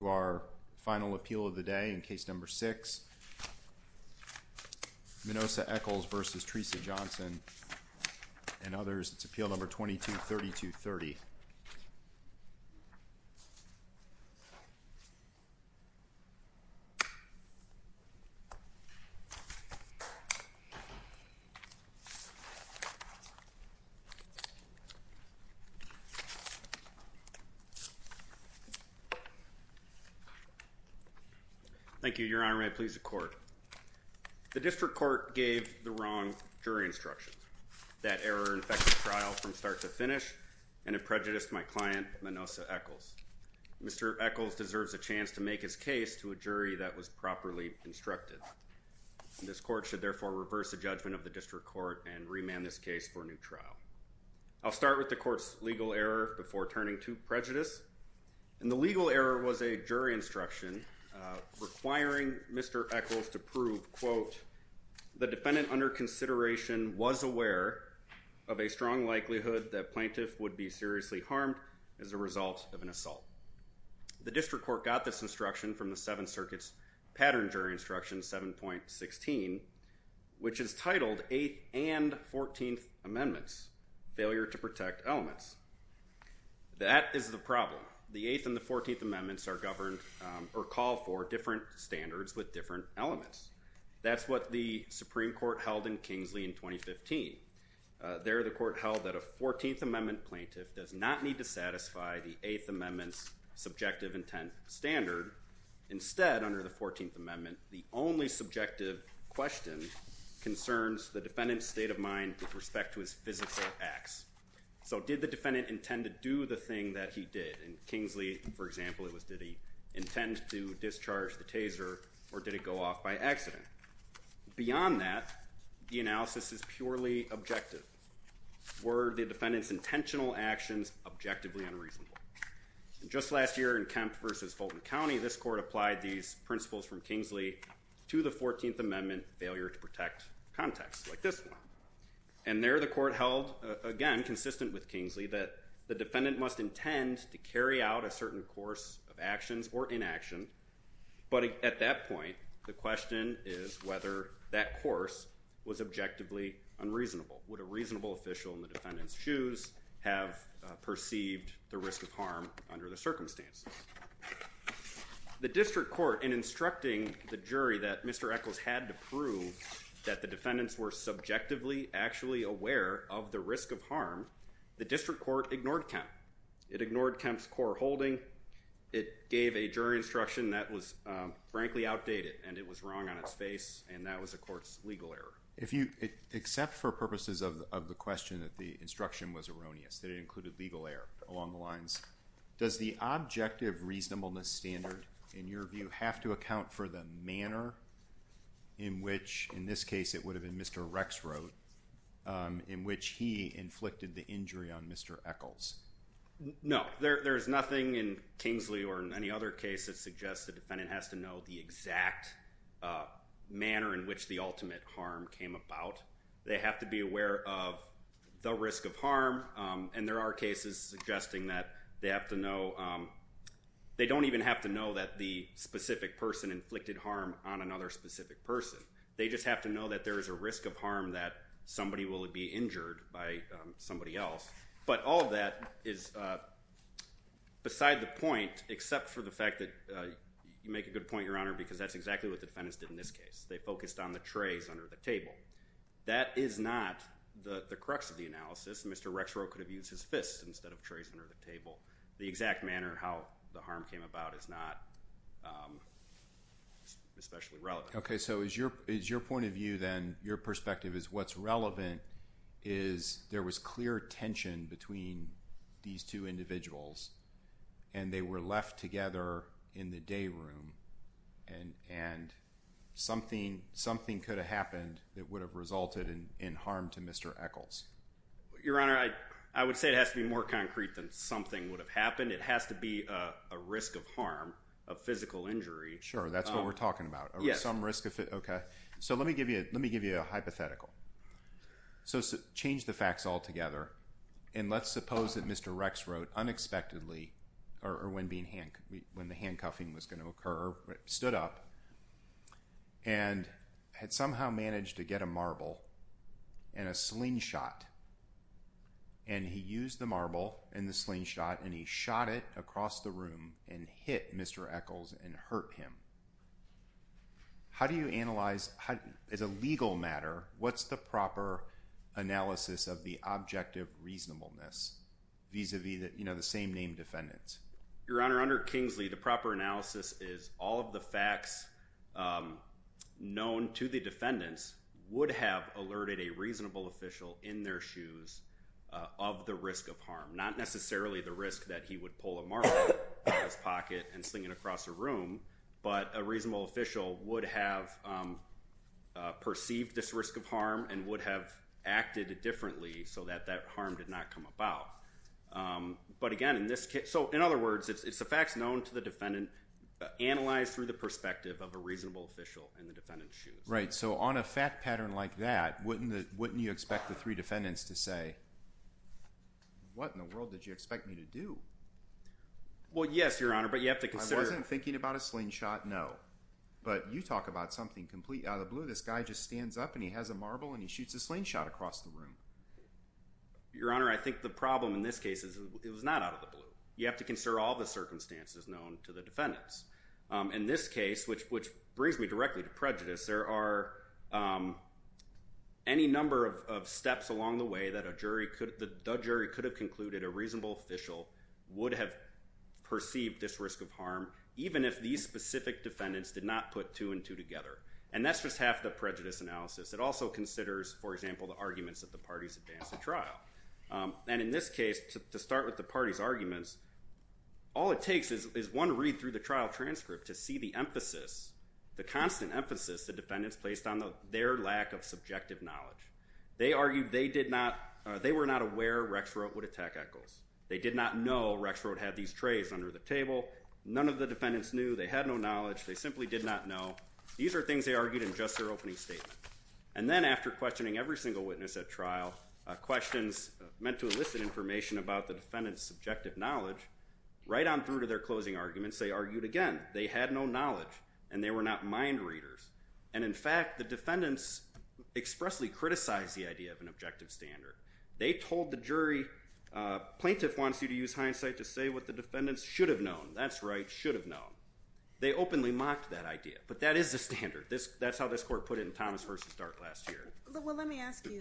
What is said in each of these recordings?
to our final appeal of the day in case number 6, Minosa Echols v. Teresa Johnson and others, it's appeal number 22-32-30. Thank you, Your Honor. May I please the court? The district court gave the wrong jury instruction. That error infected trial from start to finish and it prejudiced my client, Minosa Echols. Mr. Echols deserves a chance to make his case to a jury that was properly instructed. This court should therefore reverse the judgment of the district court and remand this case for a new trial. I'll start with the court's legal error before turning to prejudice. And the legal error was a jury instruction requiring Mr. Echols to prove, quote, the defendant under consideration was aware of a strong likelihood that plaintiff would be seriously harmed as a result of an assault. The district court got this instruction from the Seventh Circuit's pattern jury instruction 7.16, which is titled Eighth and Fourteenth Amendments Failure to Protect Elements. That is the problem. The Eighth and the Fourteenth Amendments are governed or call for different standards with different elements. That's what the Supreme Court held in Kingsley in 2015. There, the court held that a Fourteenth Amendment plaintiff does not need to satisfy the Eighth Amendment's subjective intent standard. Instead, under the Fourteenth Amendment, the only subjective question concerns the defendant's state of mind with respect to his physical acts. So did the defendant intend to do the thing that he did? In Kingsley, for example, it was did he intend to discharge the taser or did it go off by accident? Beyond that, the analysis is purely objective. Were the defendant's intentional actions objectively unreasonable? Just last year in Kemp versus Fulton County, this court applied these principles from Kingsley to the Fourteenth Amendment Failure to Protect Context, like this one. And there, the court held, again, consistent with Kingsley, that the defendant must intend to carry out a certain course of actions or inaction. But at that point, the question is whether that course was objectively unreasonable. Would a reasonable official in the defendant's shoes have perceived the risk of harm under the circumstances? The district court, in instructing the jury that Mr. Echols had to prove that the defendants were subjectively actually aware of the risk of harm, the district court ignored Kemp. It ignored Kemp's core holding. It gave a jury instruction that was, frankly, outdated, and it was wrong on its face, and that was a court's legal error. If you accept for purposes of the question that the instruction was erroneous, that it included legal error along the lines, does the objective reasonableness standard, in your view, have to account for the manner in which, in this case, it would have been Mr. Rex wrote, in which he inflicted the injury on Mr. Echols? No. There's nothing in Kingsley or in any other case that suggests the defendant has to know the exact manner in which the ultimate harm came about. They have to be aware of the risk of harm, and there are cases suggesting that they have to know— they don't even have to know that the specific person inflicted harm on another specific person. They just have to know that there is a risk of harm that somebody will be injured by somebody else. But all of that is beside the point, except for the fact that—you make a good point, Your Honor, because that's exactly what the defendants did in this case. They focused on the trays under the table. That is not the crux of the analysis. Mr. Rex wrote could have used his fists instead of trays under the table. The exact manner how the harm came about is not especially relevant. Okay, so is your point of view then—your perspective is what's relevant is there was clear tension between these two individuals, and they were left together in the day room, and something could have happened that would have resulted in harm to Mr. Echols. Your Honor, I would say it has to be more concrete than something would have happened. It has to be a risk of harm, a physical injury. Sure, that's what we're talking about. Yes. Okay, so let me give you a hypothetical. So change the facts altogether, and let's suppose that Mr. Rex stood up and had somehow managed to get a marble and a slingshot. And he used the marble and the slingshot, and he shot it across the room and hit Mr. Echols and hurt him. How do you analyze—as a legal matter, what's the proper analysis of the objective reasonableness vis-à-vis the same name defendants? Your Honor, under Kingsley, the proper analysis is all of the facts known to the defendants would have alerted a reasonable official in their shoes of the risk of harm, not necessarily the risk that he would pull a marble out of his pocket and sling it across a room, but a reasonable official would have perceived this risk of harm and would have acted differently so that that harm did not come about. But again, in this case—so in other words, it's the facts known to the defendant analyzed through the perspective of a reasonable official in the defendant's shoes. Right, so on a fact pattern like that, wouldn't you expect the three defendants to say, what in the world did you expect me to do? Well, yes, Your Honor, but you have to consider— I wasn't thinking about a slingshot, no. But you talk about something completely out of the blue. This guy just stands up, and he has a marble, and he shoots a slingshot across the room. Your Honor, I think the problem in this case is it was not out of the blue. You have to consider all the circumstances known to the defendants. In this case, which brings me directly to prejudice, there are any number of steps along the way that a jury could— the jury could have concluded a reasonable official would have perceived this risk of harm, even if these specific defendants did not put two and two together. And that's just half the prejudice analysis. It also considers, for example, the arguments that the parties advance at trial. And in this case, to start with the parties' arguments, all it takes is one read through the trial transcript to see the emphasis, the constant emphasis the defendants placed on their lack of subjective knowledge. They argued they did not—they were not aware Rexroth would attack Echols. They did not know Rexroth had these trays under the table. None of the defendants knew. They had no knowledge. They simply did not know. These are things they argued in just their opening statement. And then after questioning every single witness at trial, questions meant to elicit information about the defendants' subjective knowledge, right on through to their closing arguments, they argued again. They had no knowledge, and they were not mind readers. And in fact, the defendants expressly criticized the idea of an objective standard. They told the jury, plaintiff wants you to use hindsight to say what the defendants should have known. That's right, should have known. They openly mocked that idea, but that is the standard. That's how this court put it in Thomas v. Dart last year. Well, let me ask you,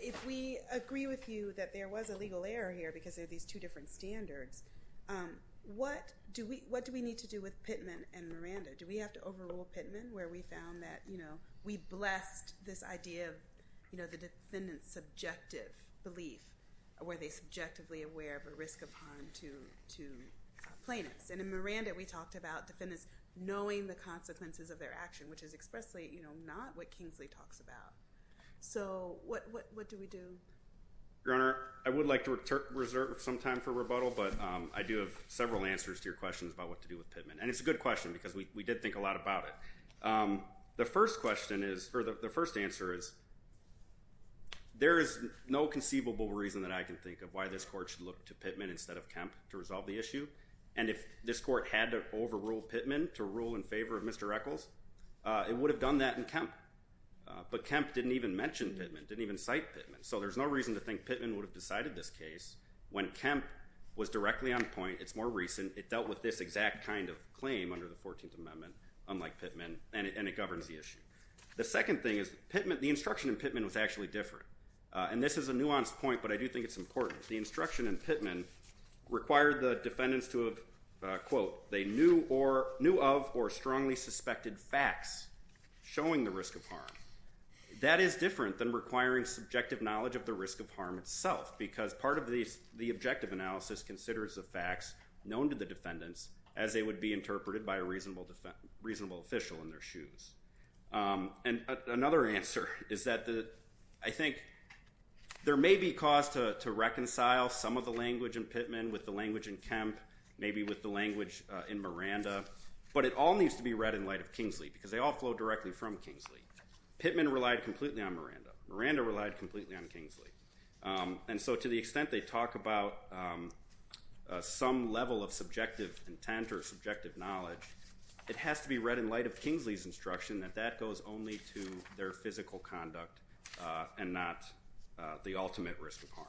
if we agree with you that there was a legal error here because there are these two different standards, what do we need to do with Pittman and Miranda? Do we have to overrule Pittman where we found that, you know, we blessed this idea of, you know, the defendants' subjective belief, were they subjectively aware of a risk of harm to plaintiffs? And in Miranda, we talked about defendants knowing the consequences of their action, which is expressly, you know, not what Kingsley talks about. So what do we do? Your Honor, I would like to reserve some time for rebuttal, but I do have several answers to your questions about what to do with Pittman. And it's a good question because we did think a lot about it. The first question is, or the first answer is, there is no conceivable reason that I can think of why this court should look to Pittman instead of Kemp to resolve the issue. And if this court had to overrule Pittman to rule in favor of Mr. Echols, it would have done that in Kemp. But Kemp didn't even mention Pittman, didn't even cite Pittman. So there's no reason to think Pittman would have decided this case when Kemp was directly on point. It's more recent. It dealt with this exact kind of claim under the 14th Amendment, unlike Pittman, and it governs the issue. The second thing is Pittman, the instruction in Pittman was actually different. And this is a nuanced point, but I do think it's important. The instruction in Pittman required the defendants to have, quote, they knew of or strongly suspected facts showing the risk of harm. That is different than requiring subjective knowledge of the risk of harm itself because part of the objective analysis considers the facts known to the defendants as they would be interpreted by a reasonable official in their shoes. And another answer is that I think there may be cause to reconcile some of the language in Pittman with the language in Kemp, maybe with the language in Miranda, but it all needs to be read in light of Kingsley because they all flow directly from Kingsley. Pittman relied completely on Miranda. Miranda relied completely on Kingsley. And so to the extent they talk about some level of subjective intent or subjective knowledge, it has to be read in light of Kingsley's instruction that that goes only to their physical conduct and not the ultimate risk of harm.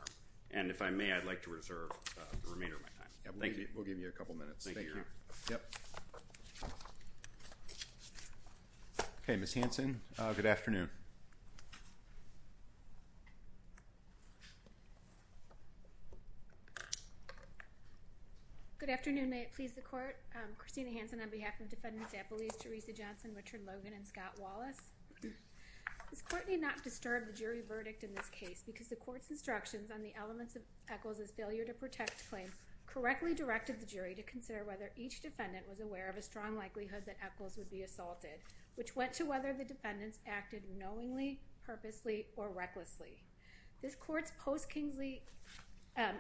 And if I may, I'd like to reserve the remainder of my time. Thank you. We'll give you a couple minutes. Thank you. Okay, Ms. Hanson, good afternoon. Good afternoon. May it please the Court. Christina Hanson on behalf of Defendants Appellees Teresa Johnson, Richard Logan, and Scott Wallace. This Court need not disturb the jury verdict in this case because the Court's instructions on the elements of Echols' failure to protect claim correctly directed the jury to consider whether each defendant was aware of a strong likelihood that Echols would be assaulted, which went to whether the defendants acted knowingly, purposely, or recklessly. This Court's post-Kingsley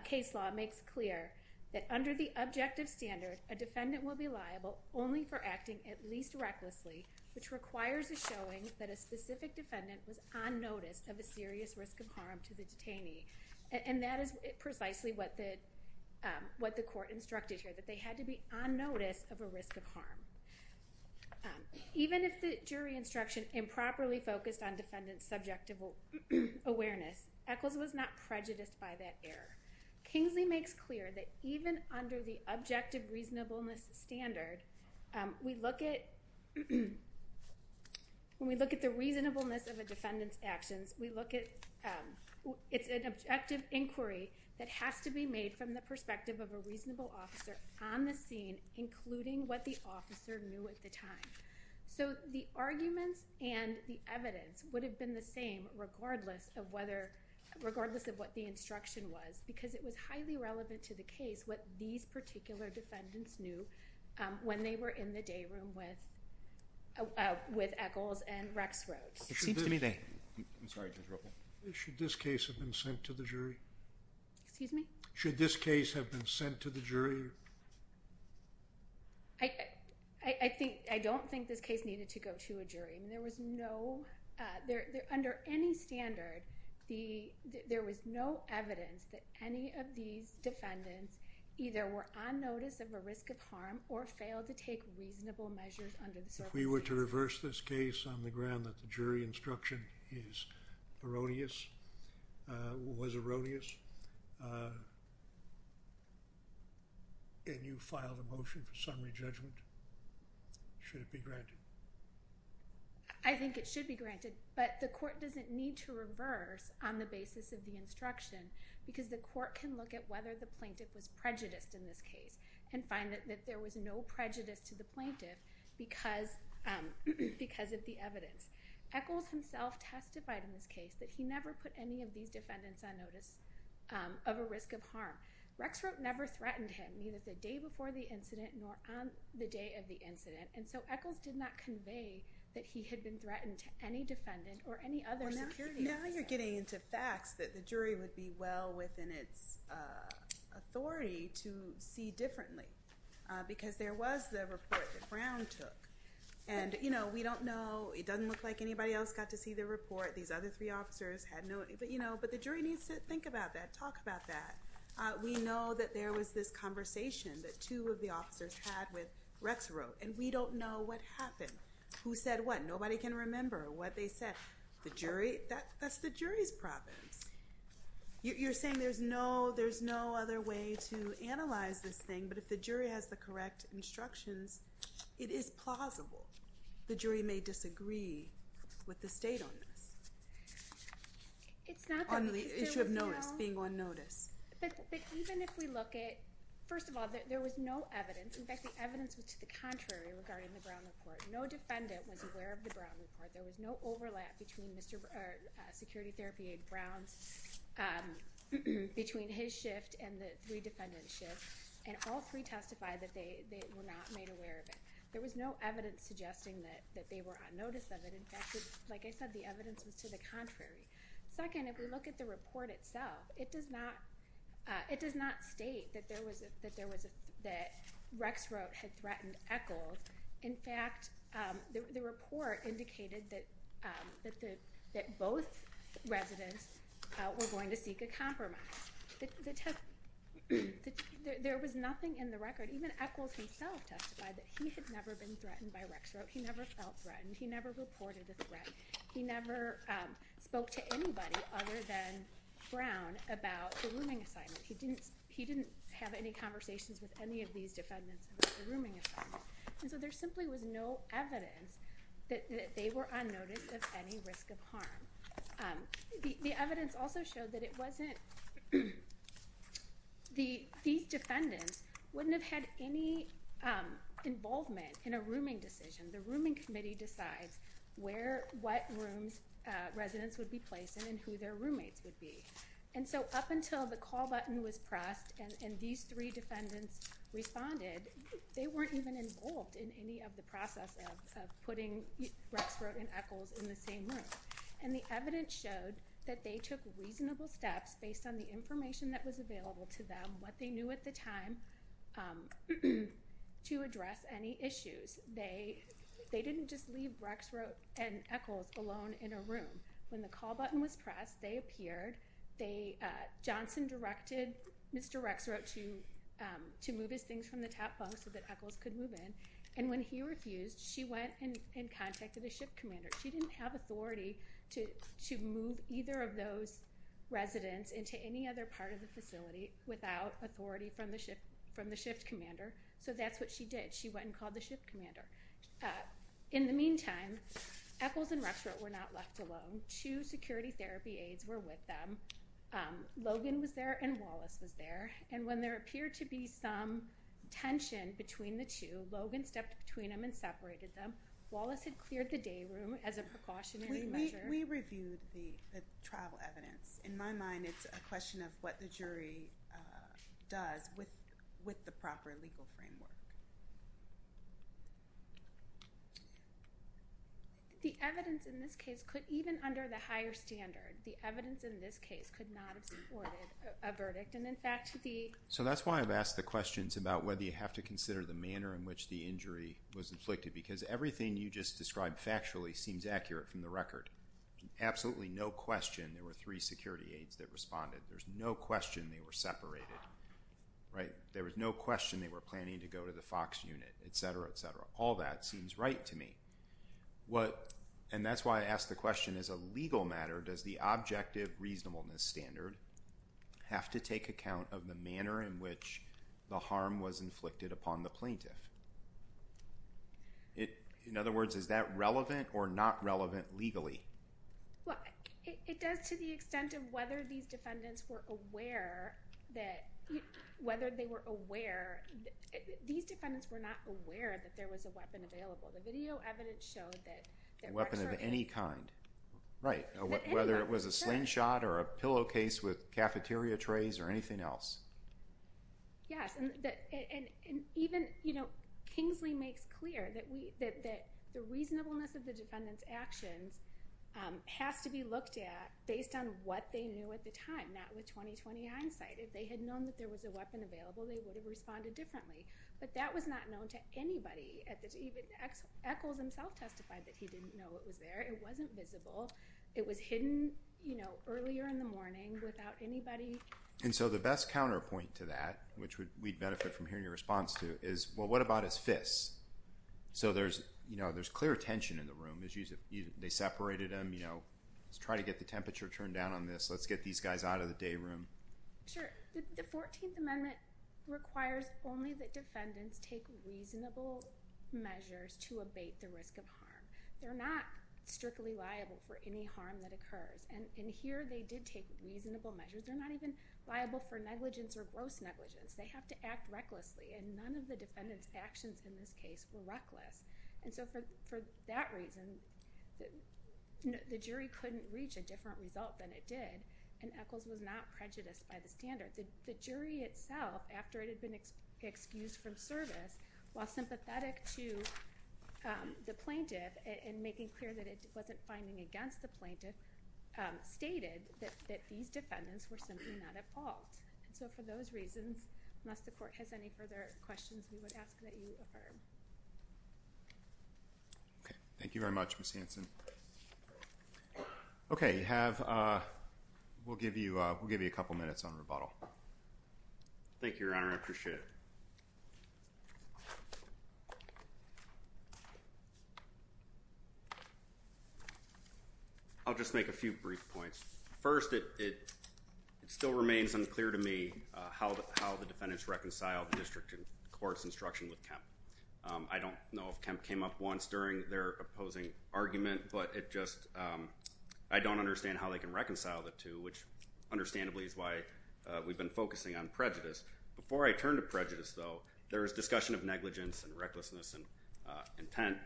case law makes clear that under the objective standard, a defendant will be liable only for acting at least recklessly, which requires a showing that a specific defendant was on notice of a serious risk of harm to the detainee. And that is precisely what the Court instructed here, that they had to be on notice of a risk of harm. Even if the jury instruction improperly focused on defendants' subjective awareness, Echols was not prejudiced by that error. Kingsley makes clear that even under the objective reasonableness standard, when we look at the reasonableness of a defendant's actions, it's an objective inquiry that has to be made from the perspective of a reasonable officer on the scene, including what the officer knew at the time. So the arguments and the evidence would have been the same regardless of what the instruction was, because it was highly relevant to the case what these particular defendants knew when they were in the day room with Echols and Rex Rhodes. Should this case have been sent to the jury? Excuse me? Should this case have been sent to the jury? I don't think this case needed to go to a jury. Under any standard, there was no evidence that any of these defendants either were on notice of a risk of harm or failed to take reasonable measures under the circumstances. If we were to reverse this case on the ground that the jury instruction is erroneous, was erroneous, and you filed a motion for summary judgment, should it be granted? I think it should be granted, but the court doesn't need to reverse on the basis of the instruction because the court can look at whether the plaintiff was prejudiced in this case and find that there was no prejudice to the plaintiff because of the evidence. Echols himself testified in this case that he never put any of these defendants on notice of a risk of harm. Rex Rhodes never threatened him, neither the day before the incident nor on the day of the incident, and so Echols did not convey that he had been threatened to any defendant or any other security officer. Now you're getting into facts that the jury would be well within its authority to see differently because there was the report that Brown took, and we don't know. It doesn't look like anybody else got to see the report. These other three officers had no—but the jury needs to think about that, talk about that. We know that there was this conversation that two of the officers had with Rex Rhodes, and we don't know what happened, who said what. Nobody can remember what they said. The jury, that's the jury's province. You're saying there's no other way to analyze this thing, but if the jury has the correct instructions, it is plausible. The jury may disagree with the state on this, on the issue of notice, being on notice. But even if we look at—first of all, there was no evidence. In fact, the evidence was to the contrary regarding the Brown report. No defendant was aware of the Brown report. There was no overlap between Security Therapy Aide Brown's—between his shift and the three defendants' shifts, and all three testified that they were not made aware of it. There was no evidence suggesting that they were on notice of it. In fact, like I said, the evidence was to the contrary. Second, if we look at the report itself, it does not state that there was a—that Rex Rhodes had threatened Echols. In fact, the report indicated that both residents were going to seek a compromise. There was nothing in the record—even Echols himself testified that he had never been threatened by Rex Rhodes. He never felt threatened. He never reported the threat. He never spoke to anybody other than Brown about the rooming assignment. He didn't have any conversations with any of these defendants about the rooming assignment. And so there simply was no evidence that they were on notice of any risk of harm. The evidence also showed that it wasn't—these defendants wouldn't have had any involvement in a rooming decision. The rooming committee decides where—what rooms residents would be placed in and who their roommates would be. And so up until the call button was pressed and these three defendants responded, they weren't even involved in any of the process of putting Rex Rhodes and Echols in the same room. And the evidence showed that they took reasonable steps based on the information that was available to them, what they knew at the time, to address any issues. They didn't just leave Rex Rhodes and Echols alone in a room. When the call button was pressed, they appeared. Johnson directed Mr. Rex Rhodes to move his things from the top bunk so that Echols could move in. And when he refused, she went and contacted the shift commander. She didn't have authority to move either of those residents into any other part of the facility without authority from the shift commander. So that's what she did. She went and called the shift commander. In the meantime, Echols and Rex Rhodes were not left alone. Two security therapy aides were with them. Logan was there and Wallace was there. And when there appeared to be some tension between the two, Logan stepped between them and separated them. Wallace had cleared the day room as a precautionary measure. We reviewed the trial evidence. In my mind, it's a question of what the jury does with the proper legal framework. The evidence in this case could, even under the higher standard, the evidence in this case could not have supported a verdict. And, in fact, the- So that's why I've asked the questions about whether you have to consider the manner in which the injury was inflicted because everything you just described factually seems accurate from the record. Absolutely no question there were three security aides that responded. There's no question they were separated. There was no question they were planning to go to the FOX unit, et cetera, et cetera. All that seems right to me. And that's why I ask the question, as a legal matter, does the objective reasonableness standard have to take account of the manner in which the harm was inflicted upon the plaintiff? In other words, is that relevant or not relevant legally? Well, it does to the extent of whether these defendants were aware that- whether they were aware- these defendants were not aware that there was a weapon available. The video evidence showed that- A weapon of any kind. Right. Whether it was a slingshot or a pillowcase with cafeteria trays or anything else. Yes. And even Kingsley makes clear that the reasonableness of the defendant's actions has to be looked at based on what they knew at the time, not with 20-20 hindsight. If they had known that there was a weapon available, they would have responded differently. But that was not known to anybody. Even Echols himself testified that he didn't know it was there. It wasn't visible. It was hidden earlier in the morning without anybody- And so the best counterpoint to that, which we'd benefit from hearing your response to, is, well, what about his fists? So there's clear tension in the room. They separated them. Let's try to get the temperature turned down on this. Let's get these guys out of the day room. Sure. The 14th Amendment requires only that defendants take reasonable measures to abate the risk of harm. They're not strictly liable for any harm that occurs. And here they did take reasonable measures. They're not even liable for negligence or gross negligence. They have to act recklessly, and none of the defendant's actions in this case were reckless. And so for that reason, the jury couldn't reach a different result than it did, and Echols was not prejudiced by the standards. The jury itself, after it had been excused from service, while sympathetic to the plaintiff and making clear that it wasn't finding against the plaintiff, stated that these defendants were simply not at fault. So for those reasons, unless the court has any further questions, we would ask that you affirm. Okay. Thank you very much, Ms. Hanson. Okay. We'll give you a couple minutes on rebuttal. Thank you, Your Honor. I appreciate it. I'll just make a few brief points. First, it still remains unclear to me how the defendants reconciled the district court's instruction with Kemp. I don't know if Kemp came up once during their opposing argument, but I don't understand how they can reconcile the two, which understandably is why we've been focusing on prejudice. Before I turn to prejudice, though, there is discussion of negligence and recklessness and intent.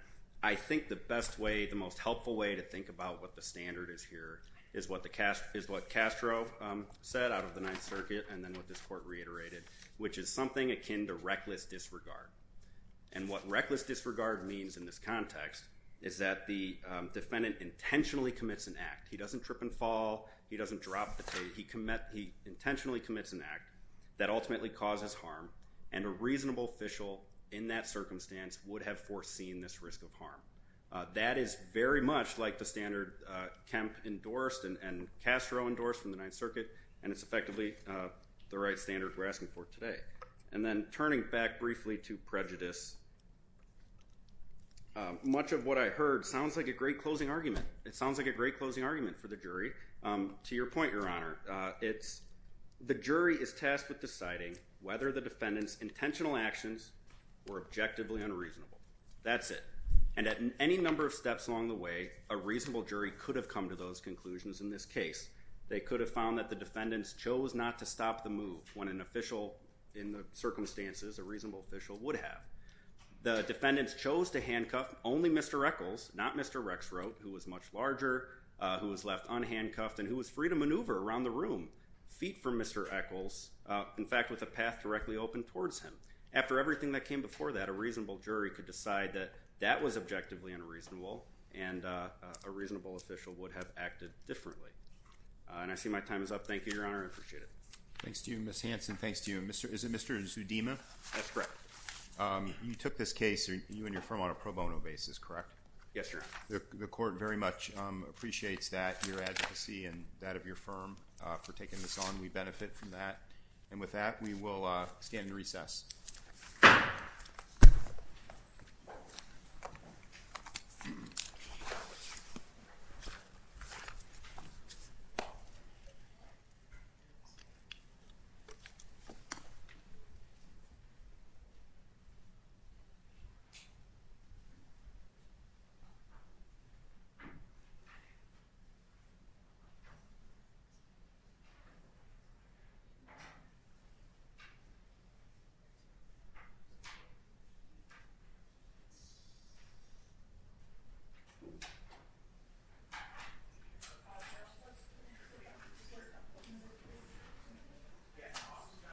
I think the best way, the most helpful way to think about what the standard is here, is what Castro said out of the Ninth Circuit and then what this court reiterated, which is something akin to reckless disregard. And what reckless disregard means in this context is that the defendant intentionally commits an act. He doesn't trip and fall. He doesn't drop the tape. He intentionally commits an act that ultimately causes harm, and a reasonable official in that circumstance would have foreseen this risk of harm. That is very much like the standard Kemp endorsed and Castro endorsed from the Ninth Circuit, and it's effectively the right standard we're asking for today. And then turning back briefly to prejudice, much of what I heard sounds like a great closing argument. It sounds like a great closing argument for the jury. To your point, Your Honor, the jury is tasked with deciding whether the defendant's intentional actions were objectively unreasonable. That's it. And at any number of steps along the way, a reasonable jury could have come to those conclusions in this case. They could have found that the defendants chose not to stop the move when an official in the circumstances, a reasonable official, would have. The defendants chose to handcuff only Mr. Echols, not Mr. Rexroth, who was much larger, who was left unhandcuffed, and who was free to maneuver around the room, feet from Mr. Echols, in fact, with a path directly open towards him. After everything that came before that, a reasonable jury could decide that that was objectively unreasonable and a reasonable official would have acted differently. And I see my time is up. Thank you, Your Honor. I appreciate it. Thanks to you, Ms. Hanson. Thanks to you. Is it Mr. Zudema? That's correct. You took this case, you and your firm, on a pro bono basis, correct? Yes, Your Honor. The Court very much appreciates that, your advocacy and that of your firm for taking this on. We benefit from that. And with that, we will stand in recess.